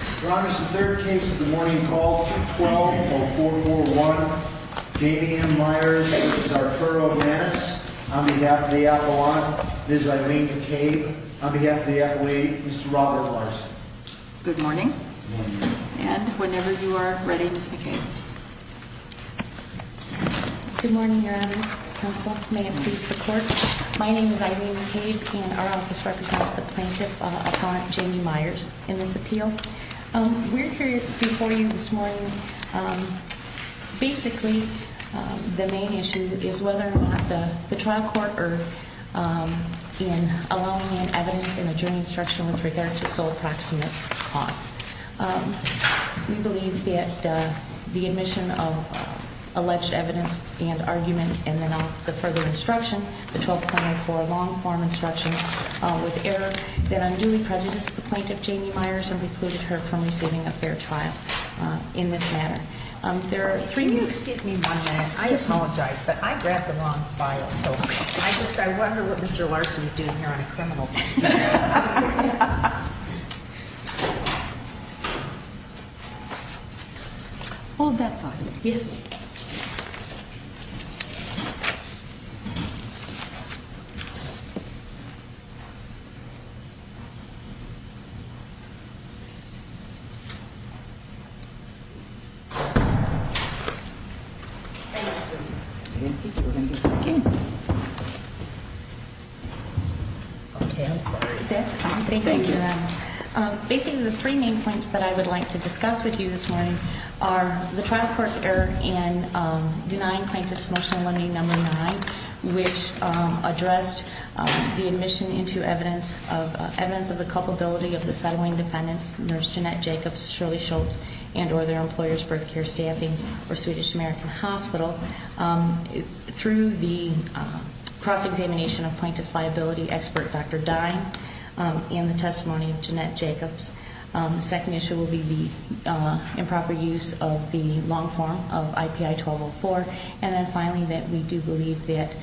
on behalf of the FAA, Mr. Robert Larson. Good morning, and whenever you are ready, Ms. McCabe. Good morning, Your Honors. Counsel, may it please the Court. My name is Eileen McCabe, and our office represents the plaintiff, Appellant Jamie Myers, in this appeal. We're here before you this morning. Basically, the main issue is whether the trial court erred in allowing in evidence in the jury instruction with regard to sole proximate cause. We believe that the admission of alleged evidence and argument in the further instruction, the 12.04 long instruction, was error that unduly prejudiced the plaintiff, Jamie Myers, and precluded her from receiving a fair trial in this manner. There are three... Excuse me one minute. I apologize, but I grabbed the wrong file, so I wonder what Mr. Larson is doing here on a criminal... Hold that file. Yes, ma'am. Okay, I'm sorry. That's fine. Thank you, Your Honor. Basically, the three main points that I would like to discuss with you this morning are the trial court's error in denying plaintiff's promotional lending number nine, which addressed the admission into evidence of the culpability of the settling defendants, Nurse Jeanette Jacobs, Shirley Schultz, and or their employers' birth care American Hospital. Through the cross-examination of plaintiff's liability expert, Dr. Dine, in the testimony of Jeanette Jacobs, the second issue will be the improper use of the long form of IPI 1204. And then finally, that we do believe that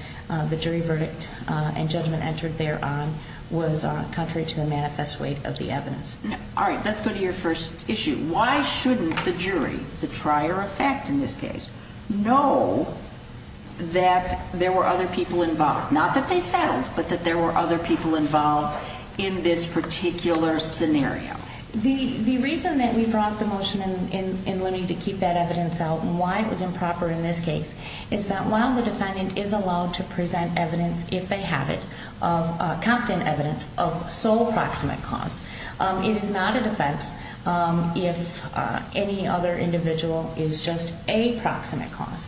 the jury verdict and judgment entered thereon was contrary to the manifest weight of the evidence. Now, all right, let's go to your first issue. Why shouldn't the jury, the trier of fact in this case, know that there were other people involved? Not that they settled, but that there were other people involved in this particular scenario? The reason that we brought the motion in Looney to keep that evidence out and why it was improper in this case is that while the defendant is allowed to present evidence, if they have competent evidence, of sole proximate cause, it is not a defense if any other individual is just a proximate cause.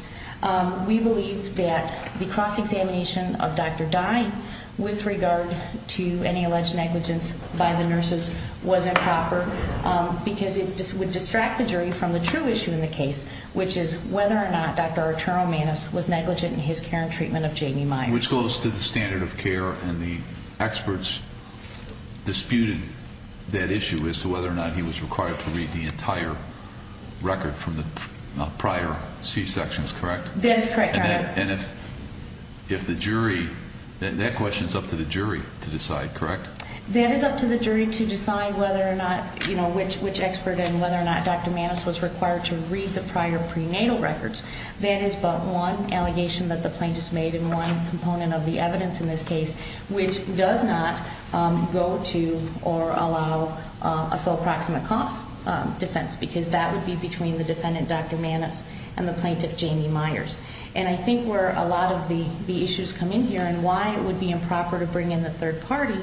We believe that the cross-examination of Dr. Dine with regard to any alleged negligence by the nurses was improper because it would distract the jury from the true issue in the case, which is whether or not Dr. Arturo Manos was negligent in his care and treatment of Jamie Myers. Which goes to the standard of care, and the experts disputed that issue as to whether or not he was required to read the entire record from the prior C-sections, correct? That is correct, Your Honor. And if the jury, that question is up to the jury to decide, correct? That is up to the jury to decide whether or not, you know, which expert and whether or not the plaintiffs made in one component of the evidence in this case, which does not go to or allow a sole proximate cause defense, because that would be between the defendant, Dr. Manos, and the plaintiff, Jamie Myers. And I think where a lot of the issues come in here and why it would be improper to bring in the third-party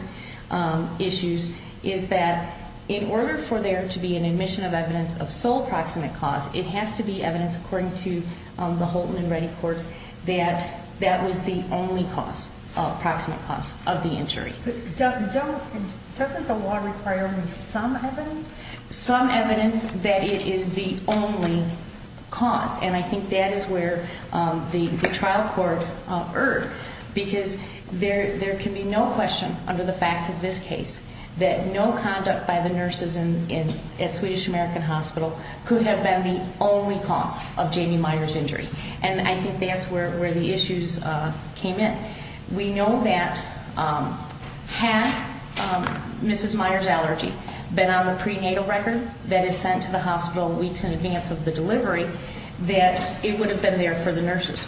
issues is that in order for there to be an admission of evidence of sole proximate cause, it has to be evidence according to the Holton and Reddick Courts that that was the only cause, proximate cause, of the injury. But doesn't the law require some evidence? Some evidence that it is the only cause, and I think that is where the trial court erred, because there can be no question under the facts of this case that no conduct by the nurses at Swedish American Hospital could have been the only cause of Jamie Myers' injury. And I think that's where the issues came in. We know that had Mrs. Myers' allergy been on the prenatal record that is sent to the hospital weeks in advance of the delivery, that it would have been there for the nurses.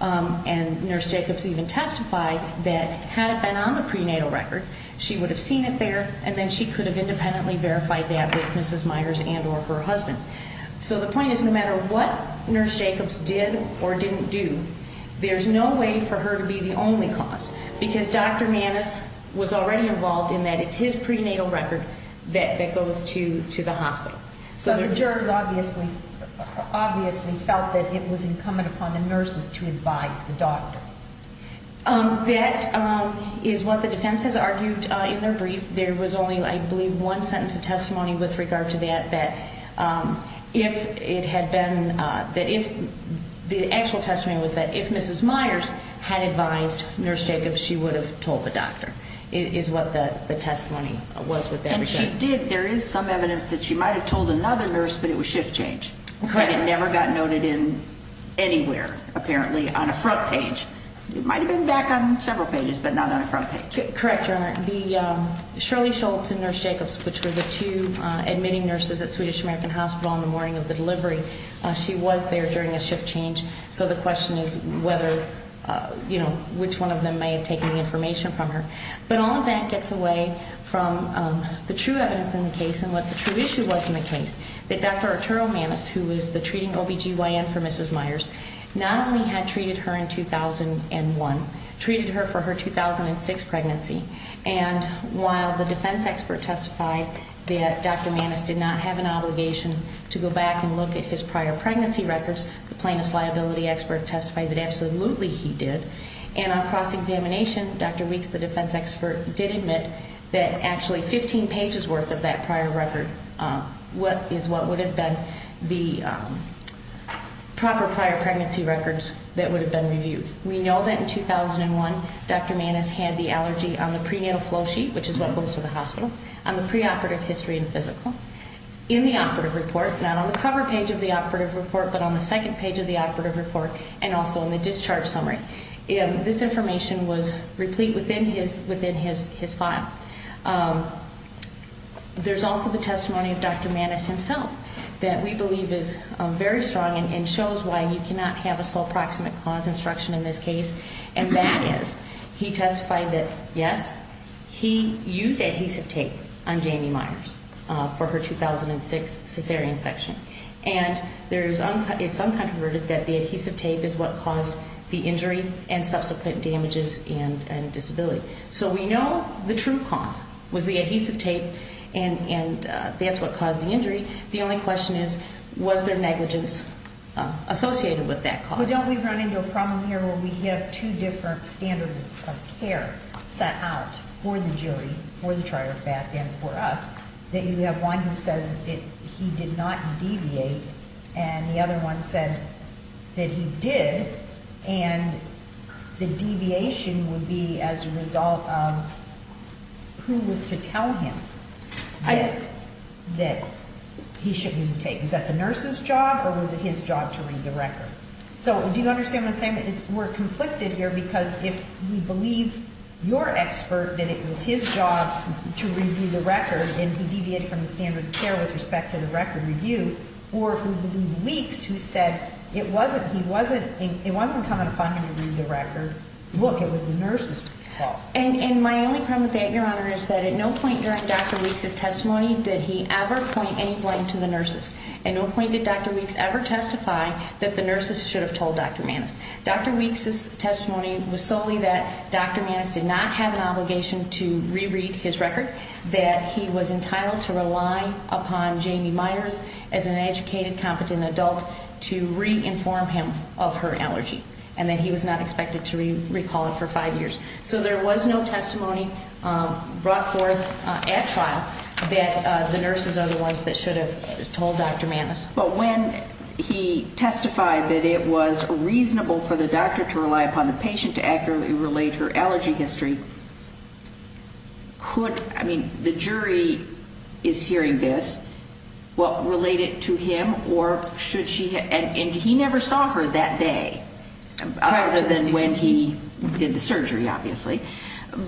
And Nurse Jacobs even testified that had it been on the prenatal record, she would have seen it there, and then she could have independently verified that with Mrs. Myers and or her husband. So the point is no matter what Nurse Jacobs did or didn't do, there's no way for her to be the only cause, because Dr. Maness was already involved in that. It's his prenatal record that goes to the hospital. So the jurors obviously felt that it was incumbent upon the nurses to advise the doctor. That is what the defense has argued in their brief. There was only, I believe, one sentence of testimony with regard to that, that if it had been that if the actual testimony was that if Mrs. Myers had advised Nurse Jacobs, she would have told the doctor, is what the testimony was with that. And she did. There is some evidence that she might have told another nurse, but it was shift change. Correct. It never got noted in anywhere, apparently, on a front page. It might have been back on several pages, but not on a front page. Correct, Your Honor. The Shirley Schultz and Nurse Jacobs, which were the two admitting nurses at Swedish American Hospital on the morning of the delivery, she was there during a shift change. So the question is whether, you know, which one of them may have taken the information from her. But all of that gets away from the true evidence in the case and what the true issue was in the case, that Dr. Arturo Maness, who was the treating OBGYN for Mrs. Myers, not only had treated her in 2001, treated her for her 2006 pregnancy. And while the defense expert testified that Dr. Maness did not have an obligation to go back and look at his prior pregnancy records, the plaintiff's liability expert testified that absolutely he did. And on cross-examination, Dr. Weeks, the defense expert, did admit that actually 15 pages worth of that prior record is what would have been the proper prior pregnancy records that would have been reviewed. We know that in 2001, Dr. Maness had the allergy on the prenatal flow sheet, which is what goes to the hospital, on the preoperative history and physical, in the operative report, not on the cover page of the operative report, but on the second page of the operative report, and also on the discharge summary. This information was replete within his file. There's also the testimony of Dr. Maness himself that we believe is very strong and shows why you cannot have a sole proximate cause instruction in this case, and that is he testified that, yes, he used adhesive tape on Jamie Myers for her 2006 cesarean section. And it's uncontroverted that the adhesive tape is what caused the injury and subsequent damages and disability. So we know the true cause was the adhesive tape, and that's what caused the injury. The only question is, was there negligence associated with that cause? But don't we run into a problem here where we have two different standards of care set out for the jury, for the trier, and for us, that you have one who says that he did not deviate, and the other one said that he did, and the deviation would be as a result of who was to tell him. Is that the nurse's job or was it his job to read the record? So do you understand what I'm saying? We're conflicted here because if we believe your expert that it was his job to review the record and he deviated from the standard of care with respect to the record review, or if we believe Weeks who said it wasn't coming upon him to read the record, look, it was the nurse's fault. And my only problem with that, Your Honor, is that at no point during Dr. Weeks' testimony did he ever point any blame to the nurses. At no point did Dr. Weeks ever testify that the nurses should have told Dr. Maness. Dr. Weeks' testimony was solely that Dr. Maness did not have an obligation to reread his record, that he was entitled to rely upon Jamie Myers as an educated, competent adult to re-inform him of her allergy, and that he was not expected to recall it for five years. So there was no testimony brought forth at trial that the nurses are the ones that should have told Dr. Maness. But when he testified that it was reasonable for the doctor to rely upon the patient to accurately relate her allergy history, could, I mean, the jury is hearing this, well, relate it to him or should she? And he never saw her that day, other than when he did the surgery, obviously.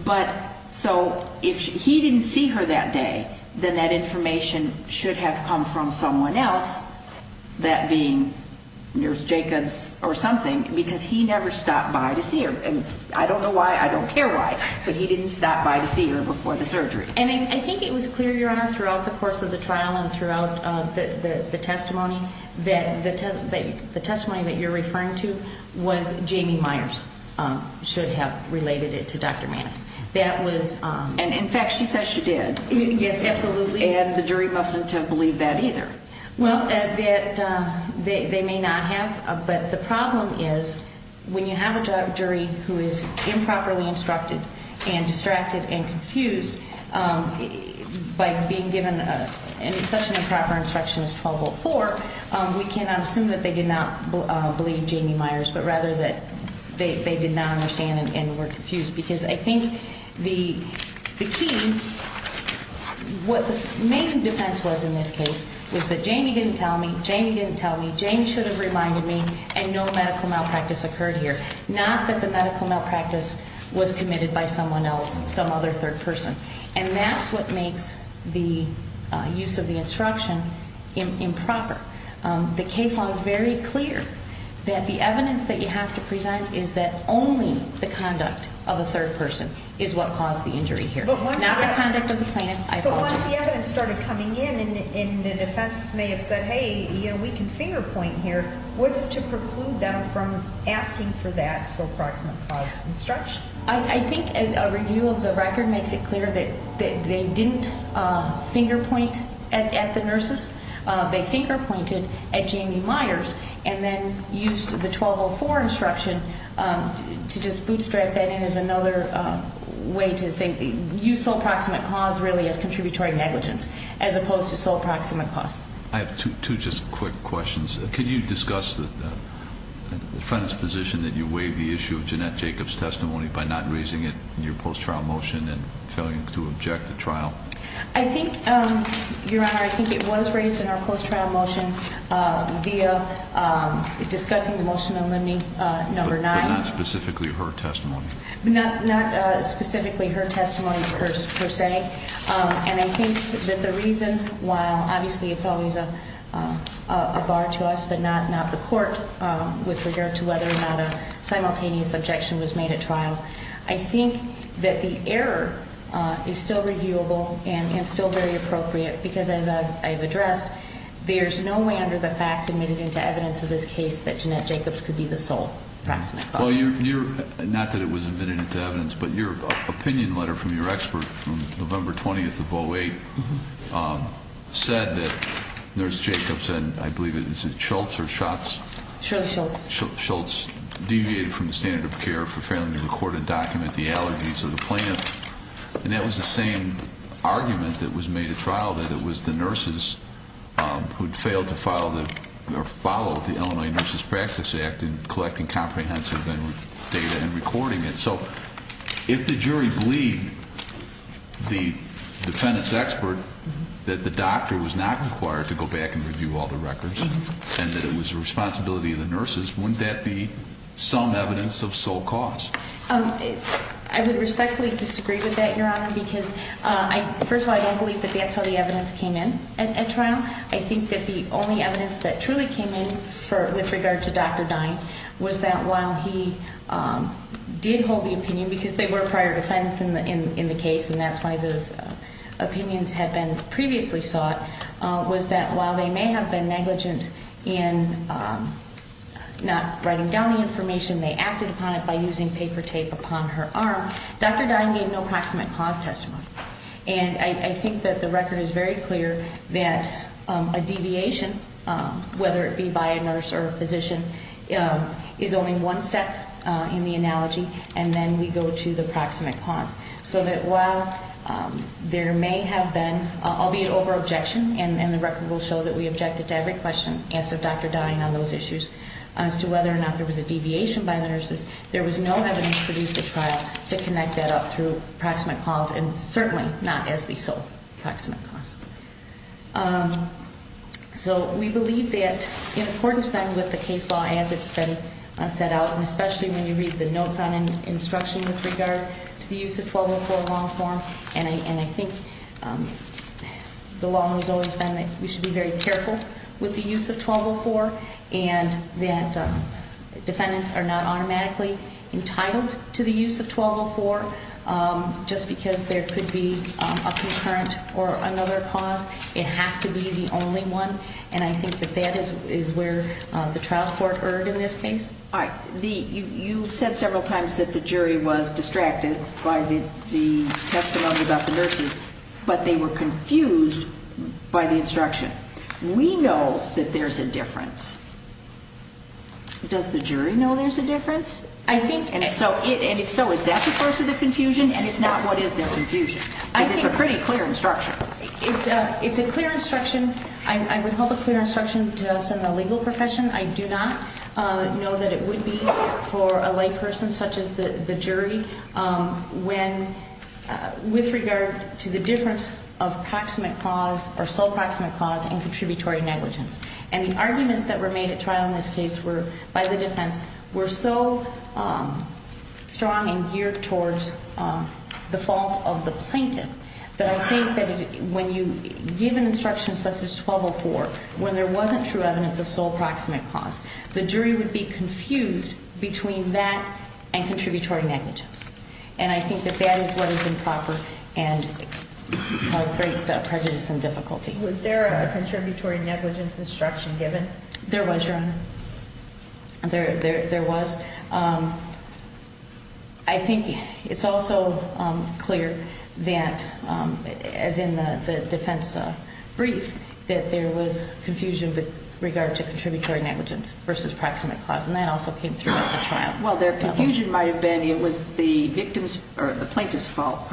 But so if he didn't see her that day, then that information should have come from someone else, that being Nurse Jacobs or something, because he never stopped by to see her. And I don't know why, I don't care why, but he didn't stop by to see her before the surgery. And I think it was clear, Your Honor, throughout the course of the trial and throughout the testimony, that the testimony that you're referring to was Jamie Myers should have related it to Dr. Maness. That was... And, in fact, she says she did. Yes, absolutely. And the jury mustn't have believed that either. Well, they may not have. But the problem is when you have a jury who is improperly instructed and distracted and confused, by being given such an improper instruction as 1204, we cannot assume that they did not believe Jamie Myers, but rather that they did not understand and were confused. Because I think the key, what the main difference was in this case was that Jamie didn't tell me, Jamie should have reminded me, and no medical malpractice occurred here. Not that the medical malpractice was committed by someone else, some other third person. And that's what makes the use of the instruction improper. The case law is very clear that the evidence that you have to present is that only the conduct of a third person is what caused the injury here. Not the conduct of the plaintiff, I apologize. Once the evidence started coming in and the defense may have said, hey, we can finger point here, what's to preclude them from asking for that sole proximate cause instruction? I think a review of the record makes it clear that they didn't finger point at the nurses. They finger pointed at Jamie Myers and then used the 1204 instruction to just bootstrap that in as another way to say, use sole proximate cause really as contributory negligence as opposed to sole proximate cause. I have two just quick questions. Can you discuss the defense's position that you waive the issue of Jeanette Jacobs' testimony by not raising it in your post trial motion and failing to object the trial? I think, Your Honor, I think it was raised in our post trial motion via discussing the motion on limiting number nine. But not specifically her testimony? Not specifically her testimony per se. And I think that the reason why, obviously it's always a bar to us, but not the court with regard to whether or not a simultaneous objection was made at trial. I think that the error is still reviewable and still very appropriate because as I've addressed, there's no way under the facts admitted into evidence of this case that Jeanette Jacobs could be the sole proximate cause. Not that it was admitted into evidence, but your opinion letter from your expert from November 20th of 08 said that Nurse Jacobs and I believe it was Schultz or Schatz? Schultz. Schultz deviated from the standard of care for failing to record and document the allergies of the plaintiff. And that was the same argument that was made at trial, that it was the nurses who'd failed to follow the Illinois Nurses Practice Act in collecting comprehensive data and recording it. So if the jury believed the defendant's expert that the doctor was not required to go back and review all the records, and that it was the responsibility of the nurses, wouldn't that be some evidence of sole cause? I would respectfully disagree with that, Your Honor, because first of all, I don't believe that that's how the evidence came in at trial. I think that the only evidence that truly came in with regard to Dr. Dine was that while he did hold the opinion, because they were prior defense in the case and that's why those opinions had been previously sought, was that while they may have been negligent in not writing down the information, they acted upon it by using paper tape upon her arm, Dr. Dine gave no proximate cause testimony. And I think that the record is very clear that a deviation, whether it be by a nurse or a physician, is only one step in the analogy, and then we go to the proximate cause. So that while there may have been, albeit over-objection, and the record will show that we objected to every question asked of Dr. Dine on those issues, as to whether or not there was a deviation by the nurses, there was no evidence produced at trial to connect that up through proximate cause, and certainly not as the sole proximate cause. So we believe that in accordance then with the case law as it's been set out, and especially when you read the notes on instruction with regard to the use of 1204 law form, and I think the law has always been that we should be very careful with the use of 1204, and that defendants are not automatically entitled to the use of 1204 just because there could be a concurrent or another cause. It has to be the only one, and I think that that is where the trial court erred in this case. All right, you said several times that the jury was distracted by the testimony about the nurses, but they were confused by the instruction. We know that there's a difference. Does the jury know there's a difference? And if so, is that the source of the confusion? And if not, what is their confusion? Because it's a pretty clear instruction. It's a clear instruction. I would hope a clear instruction to us in the legal profession. I do not know that it would be for a layperson such as the jury when with regard to the difference of proximate cause or sole proximate cause and contributory negligence. And the arguments that were made at trial in this case were, by the defense, were so strong and geared towards the fault of the plaintiff that I think that when you give an instruction such as 1204, when there wasn't true evidence of sole proximate cause, the jury would be confused between that and contributory negligence. And I think that that is what is improper and caused great prejudice and difficulty. Was there a contributory negligence instruction given? There was, Your Honor. There was. I think it's also clear that, as in the defense brief, that there was confusion with regard to contributory negligence versus proximate cause. And that also came through at the trial. Well, their confusion might have been it was the plaintiff's fault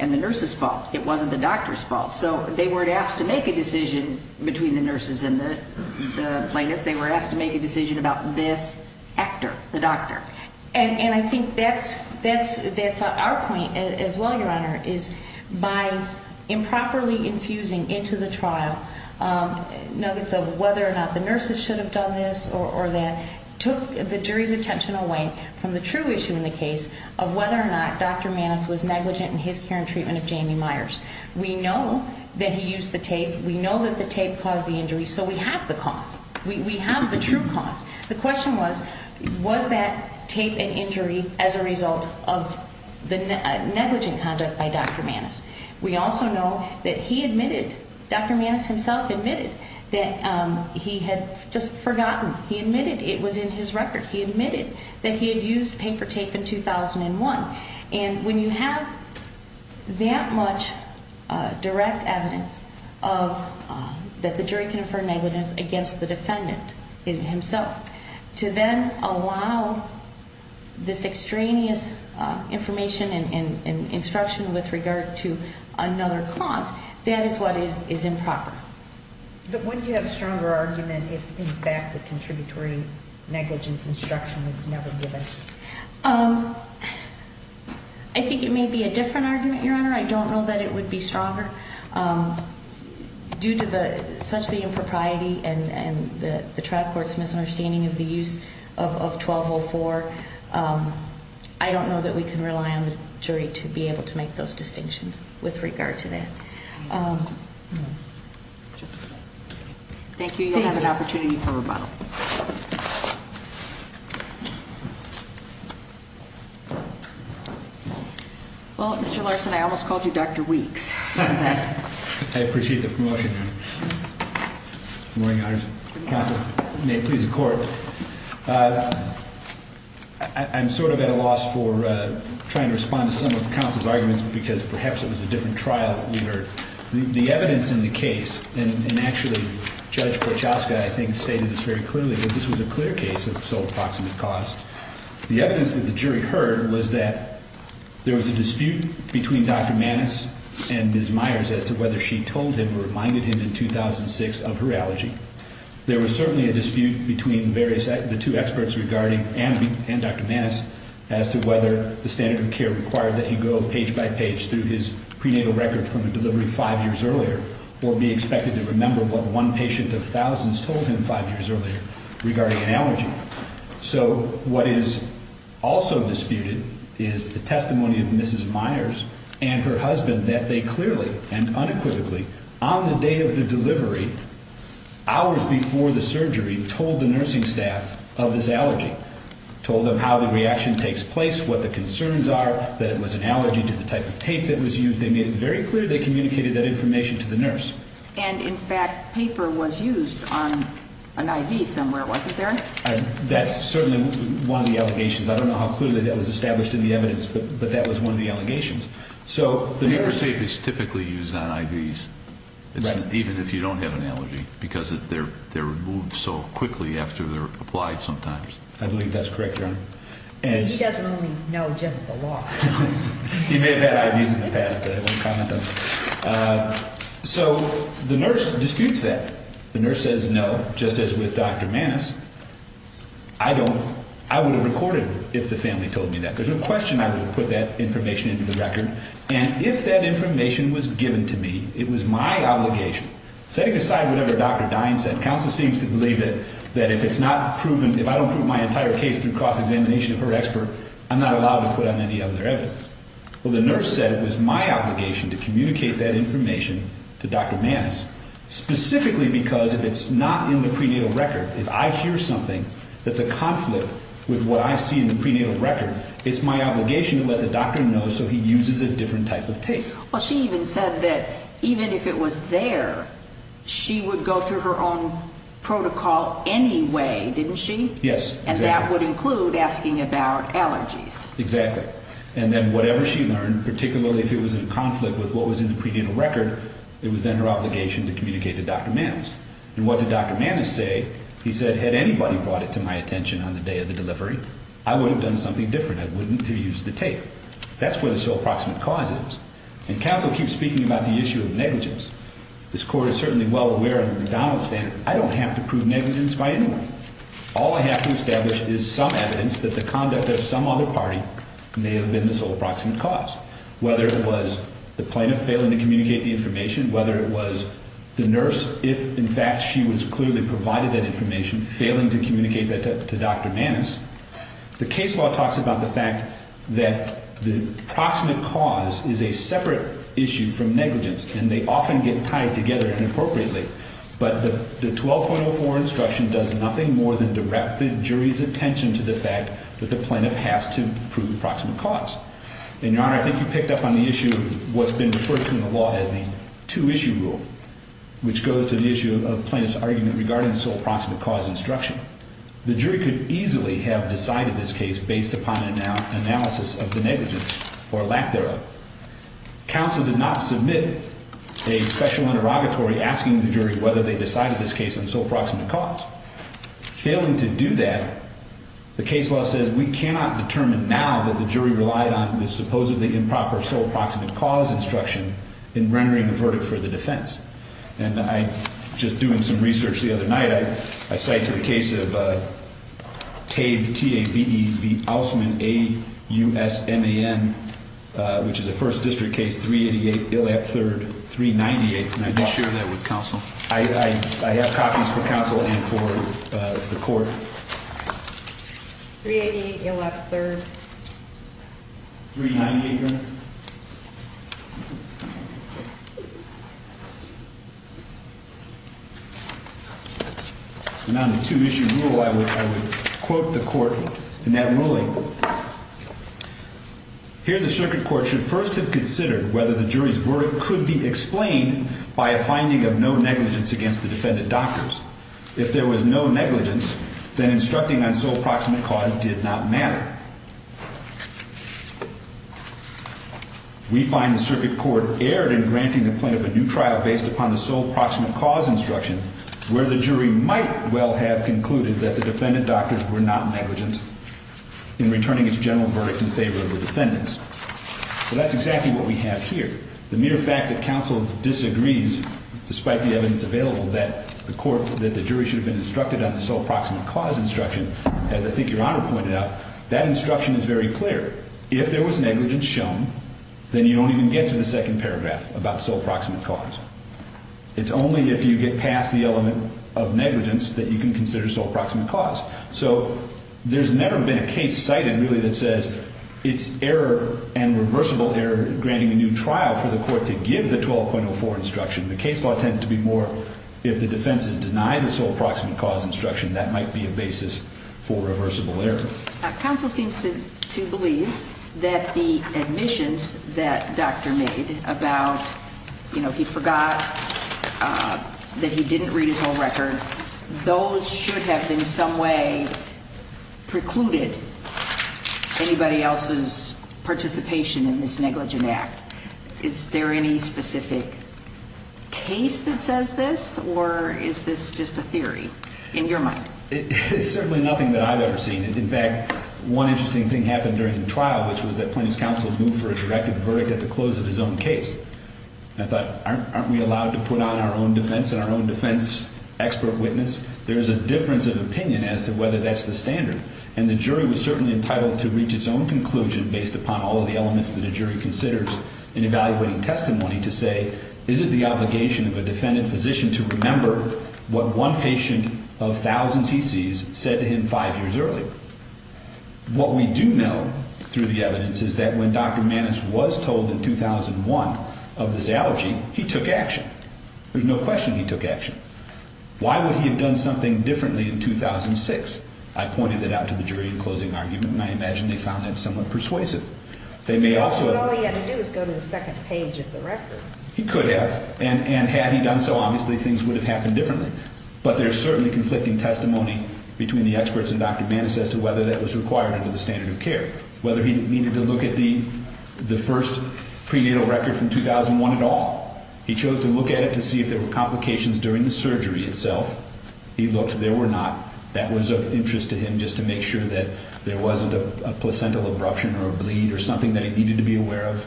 and the nurse's fault. It wasn't the doctor's fault. So they weren't asked to make a decision between the nurses and the plaintiffs. They were asked to make a decision about this actor, the doctor. And I think that's our point as well, Your Honor, is by improperly infusing into the trial notes of whether or not the nurses should have done this or that, took the jury's attention away from the true issue in the case of whether or not Dr. Maness was negligent in his care and treatment of Jamie Myers. We know that he used the tape. We know that the tape caused the injury. So we have the cause. We have the true cause. The question was, was that tape an injury as a result of the negligent conduct by Dr. Maness? We also know that he admitted, Dr. Maness himself admitted, that he had just forgotten. He admitted it was in his record. He admitted that he had used paper tape in 2001. And when you have that much direct evidence that the jury can infer negligence against the defendant himself, to then allow this extraneous information and instruction with regard to another cause, that is what is improper. But wouldn't you have a stronger argument if, in fact, the contributory negligence instruction was never given? I think it may be a different argument, Your Honor. I don't know that it would be stronger. Due to such the impropriety and the trial court's misunderstanding of the use of 1204, I don't know that we can rely on the jury to be able to make those distinctions with regard to that. Thank you. You'll have an opportunity for rebuttal. Well, Mr. Larson, I almost called you Dr. Weeks. I appreciate the promotion, Your Honor. Good morning, Your Honor. Counsel, may it please the Court. I'm sort of at a loss for trying to respond to some of the counsel's arguments because perhaps it was a different trial we heard. The evidence in the case, and actually Judge Korchowska, I think, stated this very clearly, that this was a clear case of sole proximate cause. The evidence that the jury heard was that there was a dispute between Dr. Maness and Ms. Myers as to whether she told him or reminded him in 2006 of her allergy. There was certainly a dispute between the two experts regarding Andy and Dr. Maness as to whether the standard of care required that he go page by page through his prenatal record from a delivery five years earlier or be expected to remember what one patient of thousands told him five years earlier regarding an allergy. So what is also disputed is the testimony of Mrs. Myers and her husband that they clearly and unequivocally, on the day of the delivery, hours before the surgery, told the nursing staff of his allergy, told them how the reaction takes place, what the concerns are, that it was an allergy to the type of tape that was used. They made it very clear they communicated that information to the nurse. And, in fact, paper was used on an IV somewhere, wasn't there? That's certainly one of the allegations. I don't know how clearly that was established in the evidence, but that was one of the allegations. Paper tape is typically used on IVs, even if you don't have an allergy, because they're removed so quickly after they're applied sometimes. I believe that's correct, Your Honor. He doesn't only know just the law. He may have had IVs in the past, but I won't comment on that. So the nurse disputes that. The nurse says no, just as with Dr. Maness. I don't. I would have recorded if the family told me that. There's no question I would have put that information into the record. And if that information was given to me, it was my obligation. Setting aside whatever Dr. Dine said, counsel seems to believe that if it's not proven, if I don't prove my entire case through cross-examination of her expert, I'm not allowed to put on any other evidence. Well, the nurse said it was my obligation to communicate that information to Dr. Maness, specifically because if it's not in the prenatal record, if I hear something that's a conflict with what I see in the prenatal record, it's my obligation to let the doctor know so he uses a different type of tape. Well, she even said that even if it was there, she would go through her own protocol anyway, didn't she? Yes. And that would include asking about allergies. Exactly. And then whatever she learned, particularly if it was in conflict with what was in the prenatal record, it was then her obligation to communicate to Dr. Maness. And what did Dr. Maness say? He said had anybody brought it to my attention on the day of the delivery, I would have done something different. I wouldn't have used the tape. That's where the sole proximate cause is. And counsel keeps speaking about the issue of negligence. This Court is certainly well aware of the McDonald standard. I don't have to prove negligence by any way. All I have to establish is some evidence that the conduct of some other party may have been the sole proximate cause, whether it was the plaintiff failing to communicate the information, whether it was the nurse, if in fact she was clearly provided that information, failing to communicate that to Dr. Maness. The case law talks about the fact that the proximate cause is a separate issue from negligence, and they often get tied together inappropriately. But the 12.04 instruction does nothing more than direct the jury's attention to the fact that the plaintiff has to prove proximate cause. And, Your Honor, I think you picked up on the issue of what's been referred to in the law as the two-issue rule, which goes to the issue of plaintiff's argument regarding the sole proximate cause instruction. The jury could easily have decided this case based upon an analysis of the negligence or lack thereof. Counsel did not submit a special interrogatory asking the jury whether they decided this case on sole proximate cause. Failing to do that, the case law says we cannot determine now that the jury relied on this supposedly improper sole proximate cause instruction in rendering a verdict for the defense. And I, just doing some research the other night, I cite to the case of Tabe, T-A-B-E, the Ousman, A-U-S-M-A-N, which is a first district case, 388 Illap 3rd, 398th. And I did share that with counsel. I have copies for counsel and for the court. 388 Illap 3rd. 398th. And on the two-issue rule, I would quote the court in that ruling. Here, the circuit court should first have considered whether the jury's verdict could be explained by a finding of no negligence against the defendant doctors. If there was no negligence, then instructing on sole proximate cause did not matter. We find the circuit court erred in granting the plaintiff a new trial based upon the sole proximate cause instruction, where the jury might well have concluded that the defendant doctors were not negligent in returning its general verdict in favor of the defendants. So that's exactly what we have here. The mere fact that counsel disagrees, despite the evidence available, that the jury should have been instructed on the sole proximate cause instruction, as I think Your Honor pointed out, that instruction is very clear. If there was negligence shown, then you don't even get to the second paragraph about sole proximate cause. It's only if you get past the element of negligence that you can consider sole proximate cause. So there's never been a case cited, really, that says it's error and reversible error granting a new trial for the court to give the 12.04 instruction. The case law tends to be more if the defense has denied the sole proximate cause instruction, that might be a basis for reversible error. Counsel seems to believe that the admissions that doctor made about, you know, he forgot that he didn't read his whole record, those should have in some way precluded anybody else's participation in this negligent act. Is there any specific case that says this, or is this just a theory in your mind? It's certainly nothing that I've ever seen. In fact, one interesting thing happened during the trial, which was that Plaintiff's counsel moved for a directive verdict at the close of his own case. I thought, aren't we allowed to put on our own defense and our own defense expert witness? There is a difference of opinion as to whether that's the standard. And the jury was certainly entitled to reach its own conclusion based upon all of the elements that a jury considers in evaluating testimony to say, is it the obligation of a defendant physician to remember what one patient of thousands he sees said to him five years earlier? What we do know through the evidence is that when Dr. Maness was told in 2001 of this allergy, he took action. There's no question he took action. Why would he have done something differently in 2006? I pointed that out to the jury in closing argument, and I imagine they found that somewhat persuasive. All he had to do was go to the second page of the record. He could have. And had he done so, obviously things would have happened differently. But there's certainly conflicting testimony between the experts and Dr. Maness as to whether that was required under the standard of care, whether he needed to look at the first prenatal record from 2001 at all. He chose to look at it to see if there were complications during the surgery itself. He looked. There were not. That was of interest to him just to make sure that there wasn't a placental abruption or a bleed or something that he needed to be aware of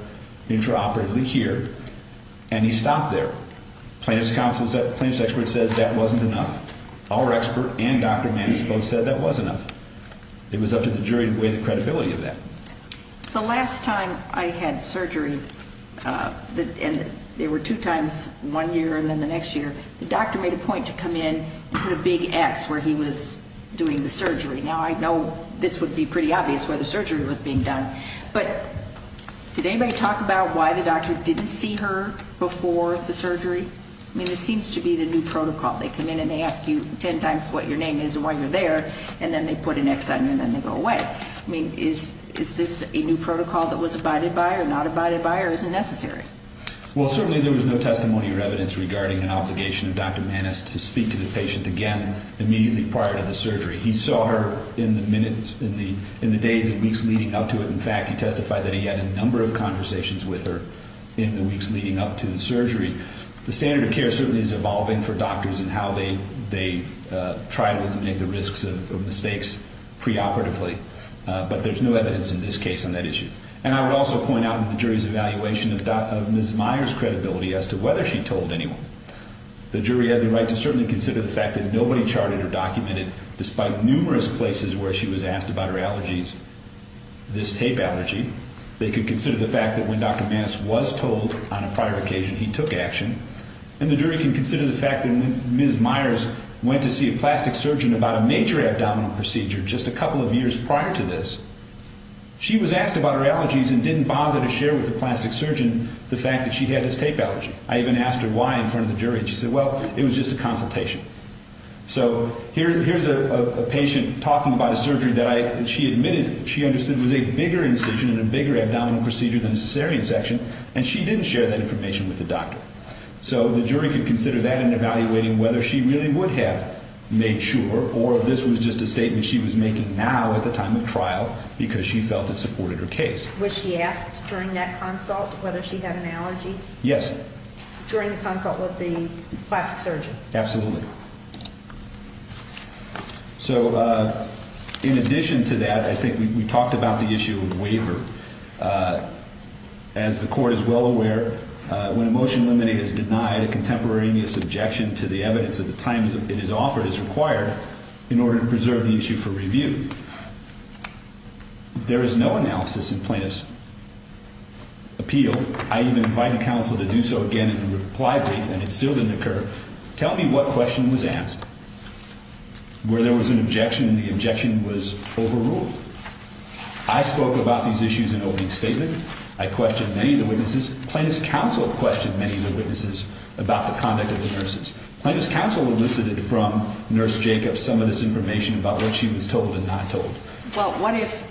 intraoperatively here. And he stopped there. Plaintiff's expert says that wasn't enough. Our expert and Dr. Maness both said that was enough. It was up to the jury to weigh the credibility of that. The last time I had surgery, and there were two times, one year and then the next year, the doctor made a point to come in and put a big X where he was doing the surgery. Now, I know this would be pretty obvious where the surgery was being done, but did anybody talk about why the doctor didn't see her before the surgery? I mean, it seems to be the new protocol. They come in and they ask you ten times what your name is and why you're there, and then they put an X on you and then they go away. I mean, is this a new protocol that was abided by or not abided by or isn't necessary? Well, certainly there was no testimony or evidence regarding an obligation of Dr. Maness to speak to the patient again immediately prior to the surgery. He saw her in the days and weeks leading up to it. In fact, he testified that he had a number of conversations with her in the weeks leading up to the surgery. The standard of care certainly is evolving for doctors in how they try to eliminate the risks of mistakes preoperatively, but there's no evidence in this case on that issue. And I would also point out in the jury's evaluation of Ms. Myers' credibility as to whether she told anyone. The jury had the right to certainly consider the fact that nobody charted or documented, despite numerous places where she was asked about her allergies, this tape allergy. They could consider the fact that when Dr. Maness was told on a prior occasion he took action. And the jury can consider the fact that when Ms. Myers went to see a plastic surgeon about a major abdominal procedure just a couple of years prior to this, she was asked about her allergies and didn't bother to share with the plastic surgeon the fact that she had this tape allergy. I even asked her why in front of the jury, and she said, well, it was just a consultation. So here's a patient talking about a surgery that she admitted she understood was a bigger incision and a bigger abdominal procedure than a cesarean section, and she didn't share that information with the doctor. So the jury could consider that in evaluating whether she really would have made sure or if this was just a statement she was making now at the time of trial because she felt it supported her case. Was she asked during that consult whether she had an allergy? Yes. During the consult with the plastic surgeon? Absolutely. So in addition to that, I think we talked about the issue of waiver. As the court is well aware, when a motion limiting is denied, a contemporaneous objection to the evidence at the time it is offered is required in order to preserve the issue for review. There is no analysis in plaintiff's appeal. I even invited counsel to do so again in reply brief, and it still didn't occur. Tell me what question was asked, where there was an objection and the objection was overruled. I spoke about these issues in opening statement. I questioned many of the witnesses. Plaintiff's counsel questioned many of the witnesses about the conduct of the nurses. Plaintiff's counsel elicited from Nurse Jacobs some of this information about what she was told and not told. Well, what if,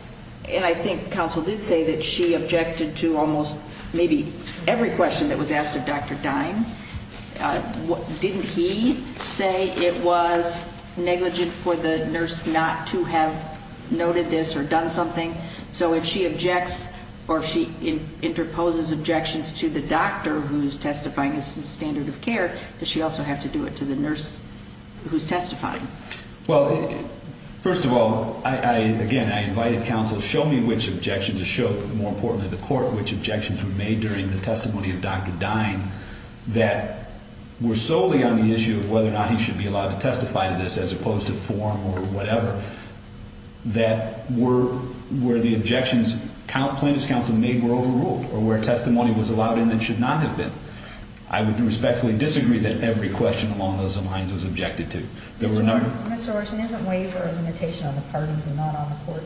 and I think counsel did say that she objected to almost maybe every question that was asked of Dr. Dine. Didn't he say it was negligent for the nurse not to have noted this or done something? So if she objects or if she interposes objections to the doctor who is testifying as to the standard of care, does she also have to do it to the nurse who is testifying? Well, first of all, again, I invited counsel to show me which objections were made during the testimony of Dr. Dine that were solely on the issue of whether or not he should be allowed to testify to this as opposed to form or whatever, that were the objections plaintiff's counsel made were overruled or where testimony was allowed in that should not have been. I would respectfully disagree that every question along those lines was objected to. Mr. Orson, isn't waiver a limitation on the parties and not on the court?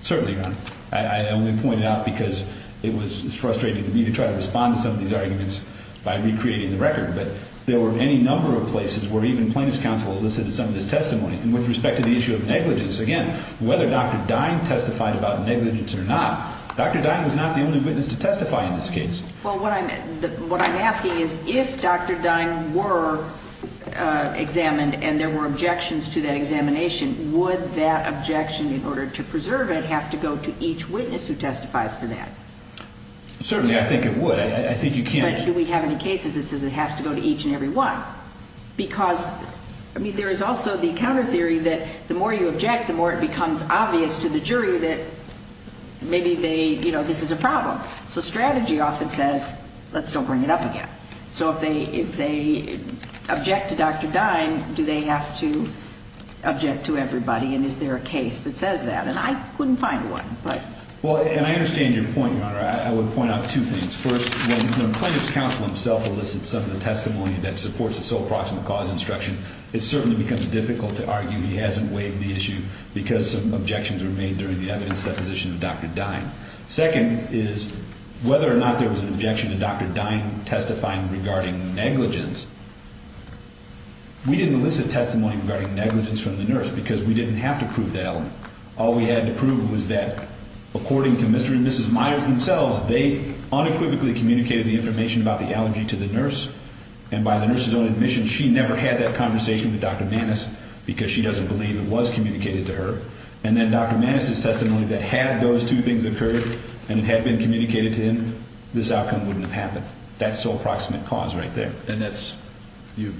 Certainly, Your Honor. I only point it out because it was frustrating to me to try to respond to some of these arguments by recreating the record. But there were any number of places where even plaintiff's counsel elicited some of this testimony. And with respect to the issue of negligence, again, whether Dr. Dine testified about negligence or not, Dr. Dine was not the only witness to testify in this case. Well, what I'm asking is if Dr. Dine were examined and there were objections to that examination, would that objection in order to preserve it have to go to each witness who testifies to that? Certainly, I think it would. I think you can't- But do we have any cases that says it has to go to each and every one? Because, I mean, there is also the counter theory that the more you object, the more it becomes obvious to the jury that maybe they, you know, this is a problem. So strategy often says, let's don't bring it up again. So if they object to Dr. Dine, do they have to object to everybody? And is there a case that says that? And I couldn't find one, but- Well, and I understand your point, Your Honor. I would point out two things. First, when the plaintiff's counsel himself elicits some of the testimony that supports the sole proximate cause instruction, it certainly becomes difficult to argue he hasn't waived the issue because some objections were made during the evidence deposition of Dr. Dine. Second is whether or not there was an objection to Dr. Dine testifying regarding negligence. We didn't elicit testimony regarding negligence from the nurse because we didn't have to prove that. All we had to prove was that, according to Mr. and Mrs. Myers themselves, they unequivocally communicated the information about the allergy to the nurse, and by the nurse's own admission, she never had that conversation with Dr. Maness because she doesn't believe it was communicated to her. And then Dr. Maness's testimony that had those two things occurred and it had been communicated to him, this outcome wouldn't have happened. That's sole proximate cause right there. And that's-your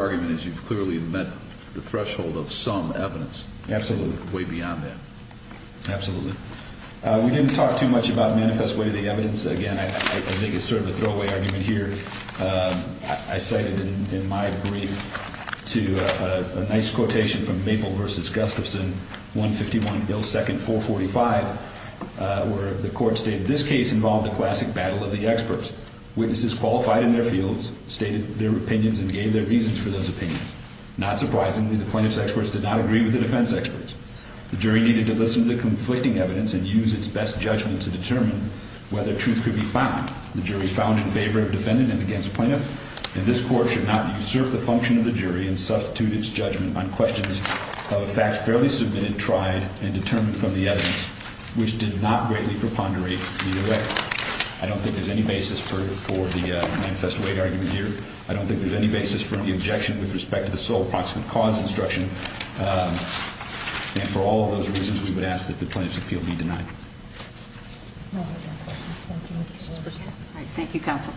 argument is you've clearly met the threshold of some evidence- Absolutely. Way beyond that. Absolutely. We didn't talk too much about manifest way to the evidence. Again, I think it's sort of a throwaway argument here. I cited in my brief to a nice quotation from Maple v. Gustafson, 151 Bill 2nd, 445, where the court stated, This case involved a classic battle of the experts. Witnesses qualified in their fields, stated their opinions, and gave their reasons for those opinions. Not surprisingly, the plaintiff's experts did not agree with the defense experts. The jury needed to listen to the conflicting evidence and use its best judgment to determine whether truth could be found. The jury found in favor of defendant and against plaintiff, and this court should not usurp the function of the jury and substitute its judgment on questions of a fact fairly submitted, tried, and determined from the evidence, which did not greatly preponderate either way. I don't think there's any basis for the manifest way argument here. I don't think there's any basis for any objection with respect to the sole proximate cause instruction. And for all of those reasons, we would ask that the plaintiff's appeal be denied. Thank you, counsel.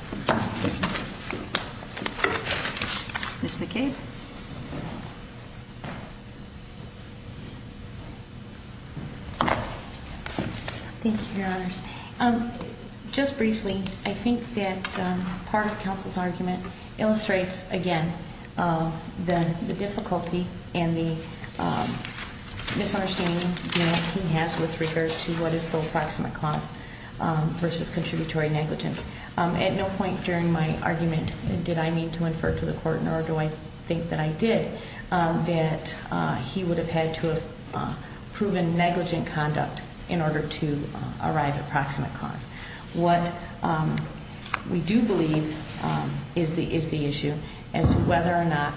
Ms. McCabe. Thank you, Your Honors. Just briefly, I think that part of counsel's argument illustrates, again, the difficulty and the misunderstanding he has with regard to what is sole proximate cause versus contributory negligence. At no point during my argument did I mean to infer to the court, nor do I think that I did, that he would have had to have proven negligent conduct in order to arrive at proximate cause. What we do believe is the issue as to whether or not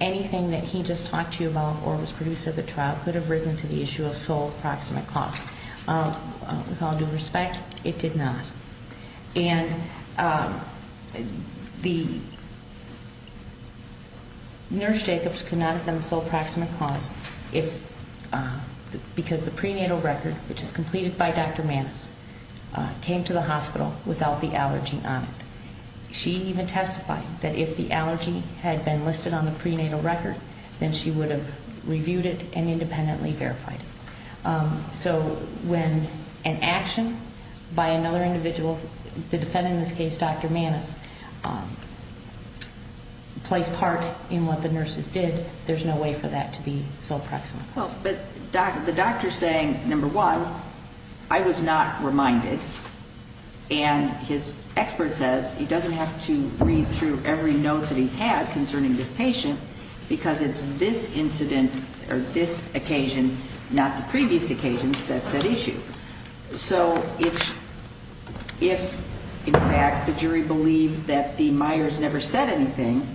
anything that he just talked to you about or was produced at the trial could have risen to the issue of sole proximate cause. With all due respect, it did not. And the nurse Jacobs could not have done sole proximate cause because the prenatal record, which is completed by Dr. Maness, came to the hospital without the allergy on it. She even testified that if the allergy had been listed on the prenatal record, then she would have reviewed it and independently verified it. So when an action by another individual, the defendant in this case, Dr. Maness, plays part in what the nurses did, there's no way for that to be sole proximate cause. But the doctor's saying, number one, I was not reminded, and his expert says he doesn't have to read through every note that he's had concerning this patient because it's this incident or this occasion, not the previous occasion, that's at issue. So if, in fact, the jury believed that the Myers never said anything,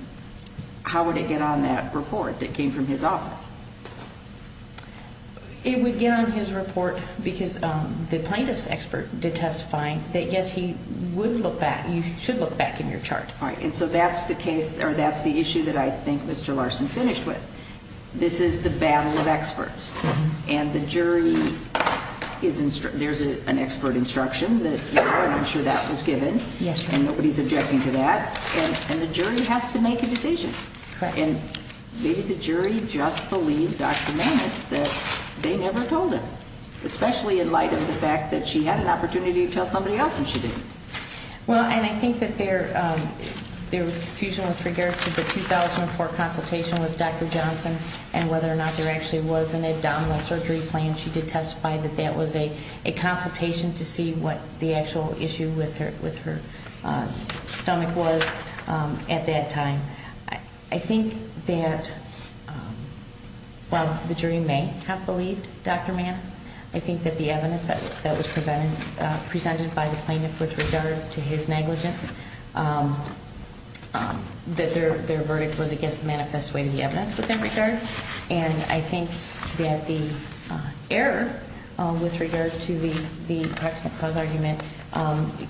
how would it get on that report that came from his office? It would get on his report because the plaintiff's expert did testify that, yes, he would look back. You should look back in your chart. All right, and so that's the case, or that's the issue that I think Mr. Larson finished with. This is the battle of experts, and the jury is instructing. There's an expert instruction that, you know, I'm sure that was given. Yes, ma'am. And nobody's objecting to that, and the jury has to make a decision. And maybe the jury just believed Dr. Maness that they never told him, especially in light of the fact that she had an opportunity to tell somebody else and she didn't. Well, and I think that there was confusion with regard to the 2004 consultation with Dr. Johnson and whether or not there actually was an abdominal surgery plan. She did testify that that was a consultation to see what the actual issue with her stomach was at that time. I think that, well, the jury may have believed Dr. Maness. I think that the evidence that was presented by the plaintiff with regard to his negligence, that their verdict was against the manifest way of the evidence with that regard. And I think that the error with regard to the proximate cause argument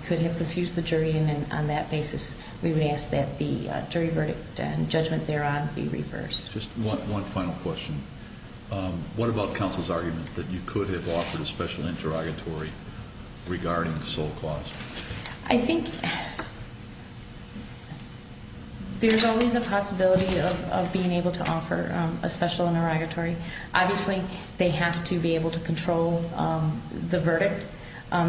could have confused the jury, and on that basis we would ask that the jury verdict and judgment thereon be reversed. Just one final question. What about counsel's argument that you could have offered a special interrogatory regarding sole cause? I think there's always a possibility of being able to offer a special interrogatory. Obviously, they have to be able to control the verdict.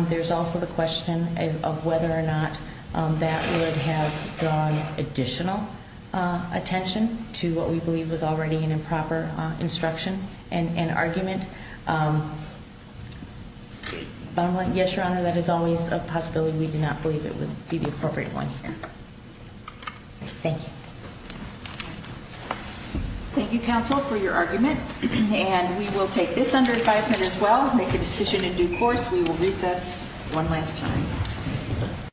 There's also the question of whether or not that would have drawn additional attention to what we believe was already an improper instruction and argument. Yes, Your Honor, that is always a possibility. We do not believe it would be the appropriate one here. Thank you. Thank you, counsel, for your argument. And we will take this under advisement as well, make a decision in due course. We will recess one last time.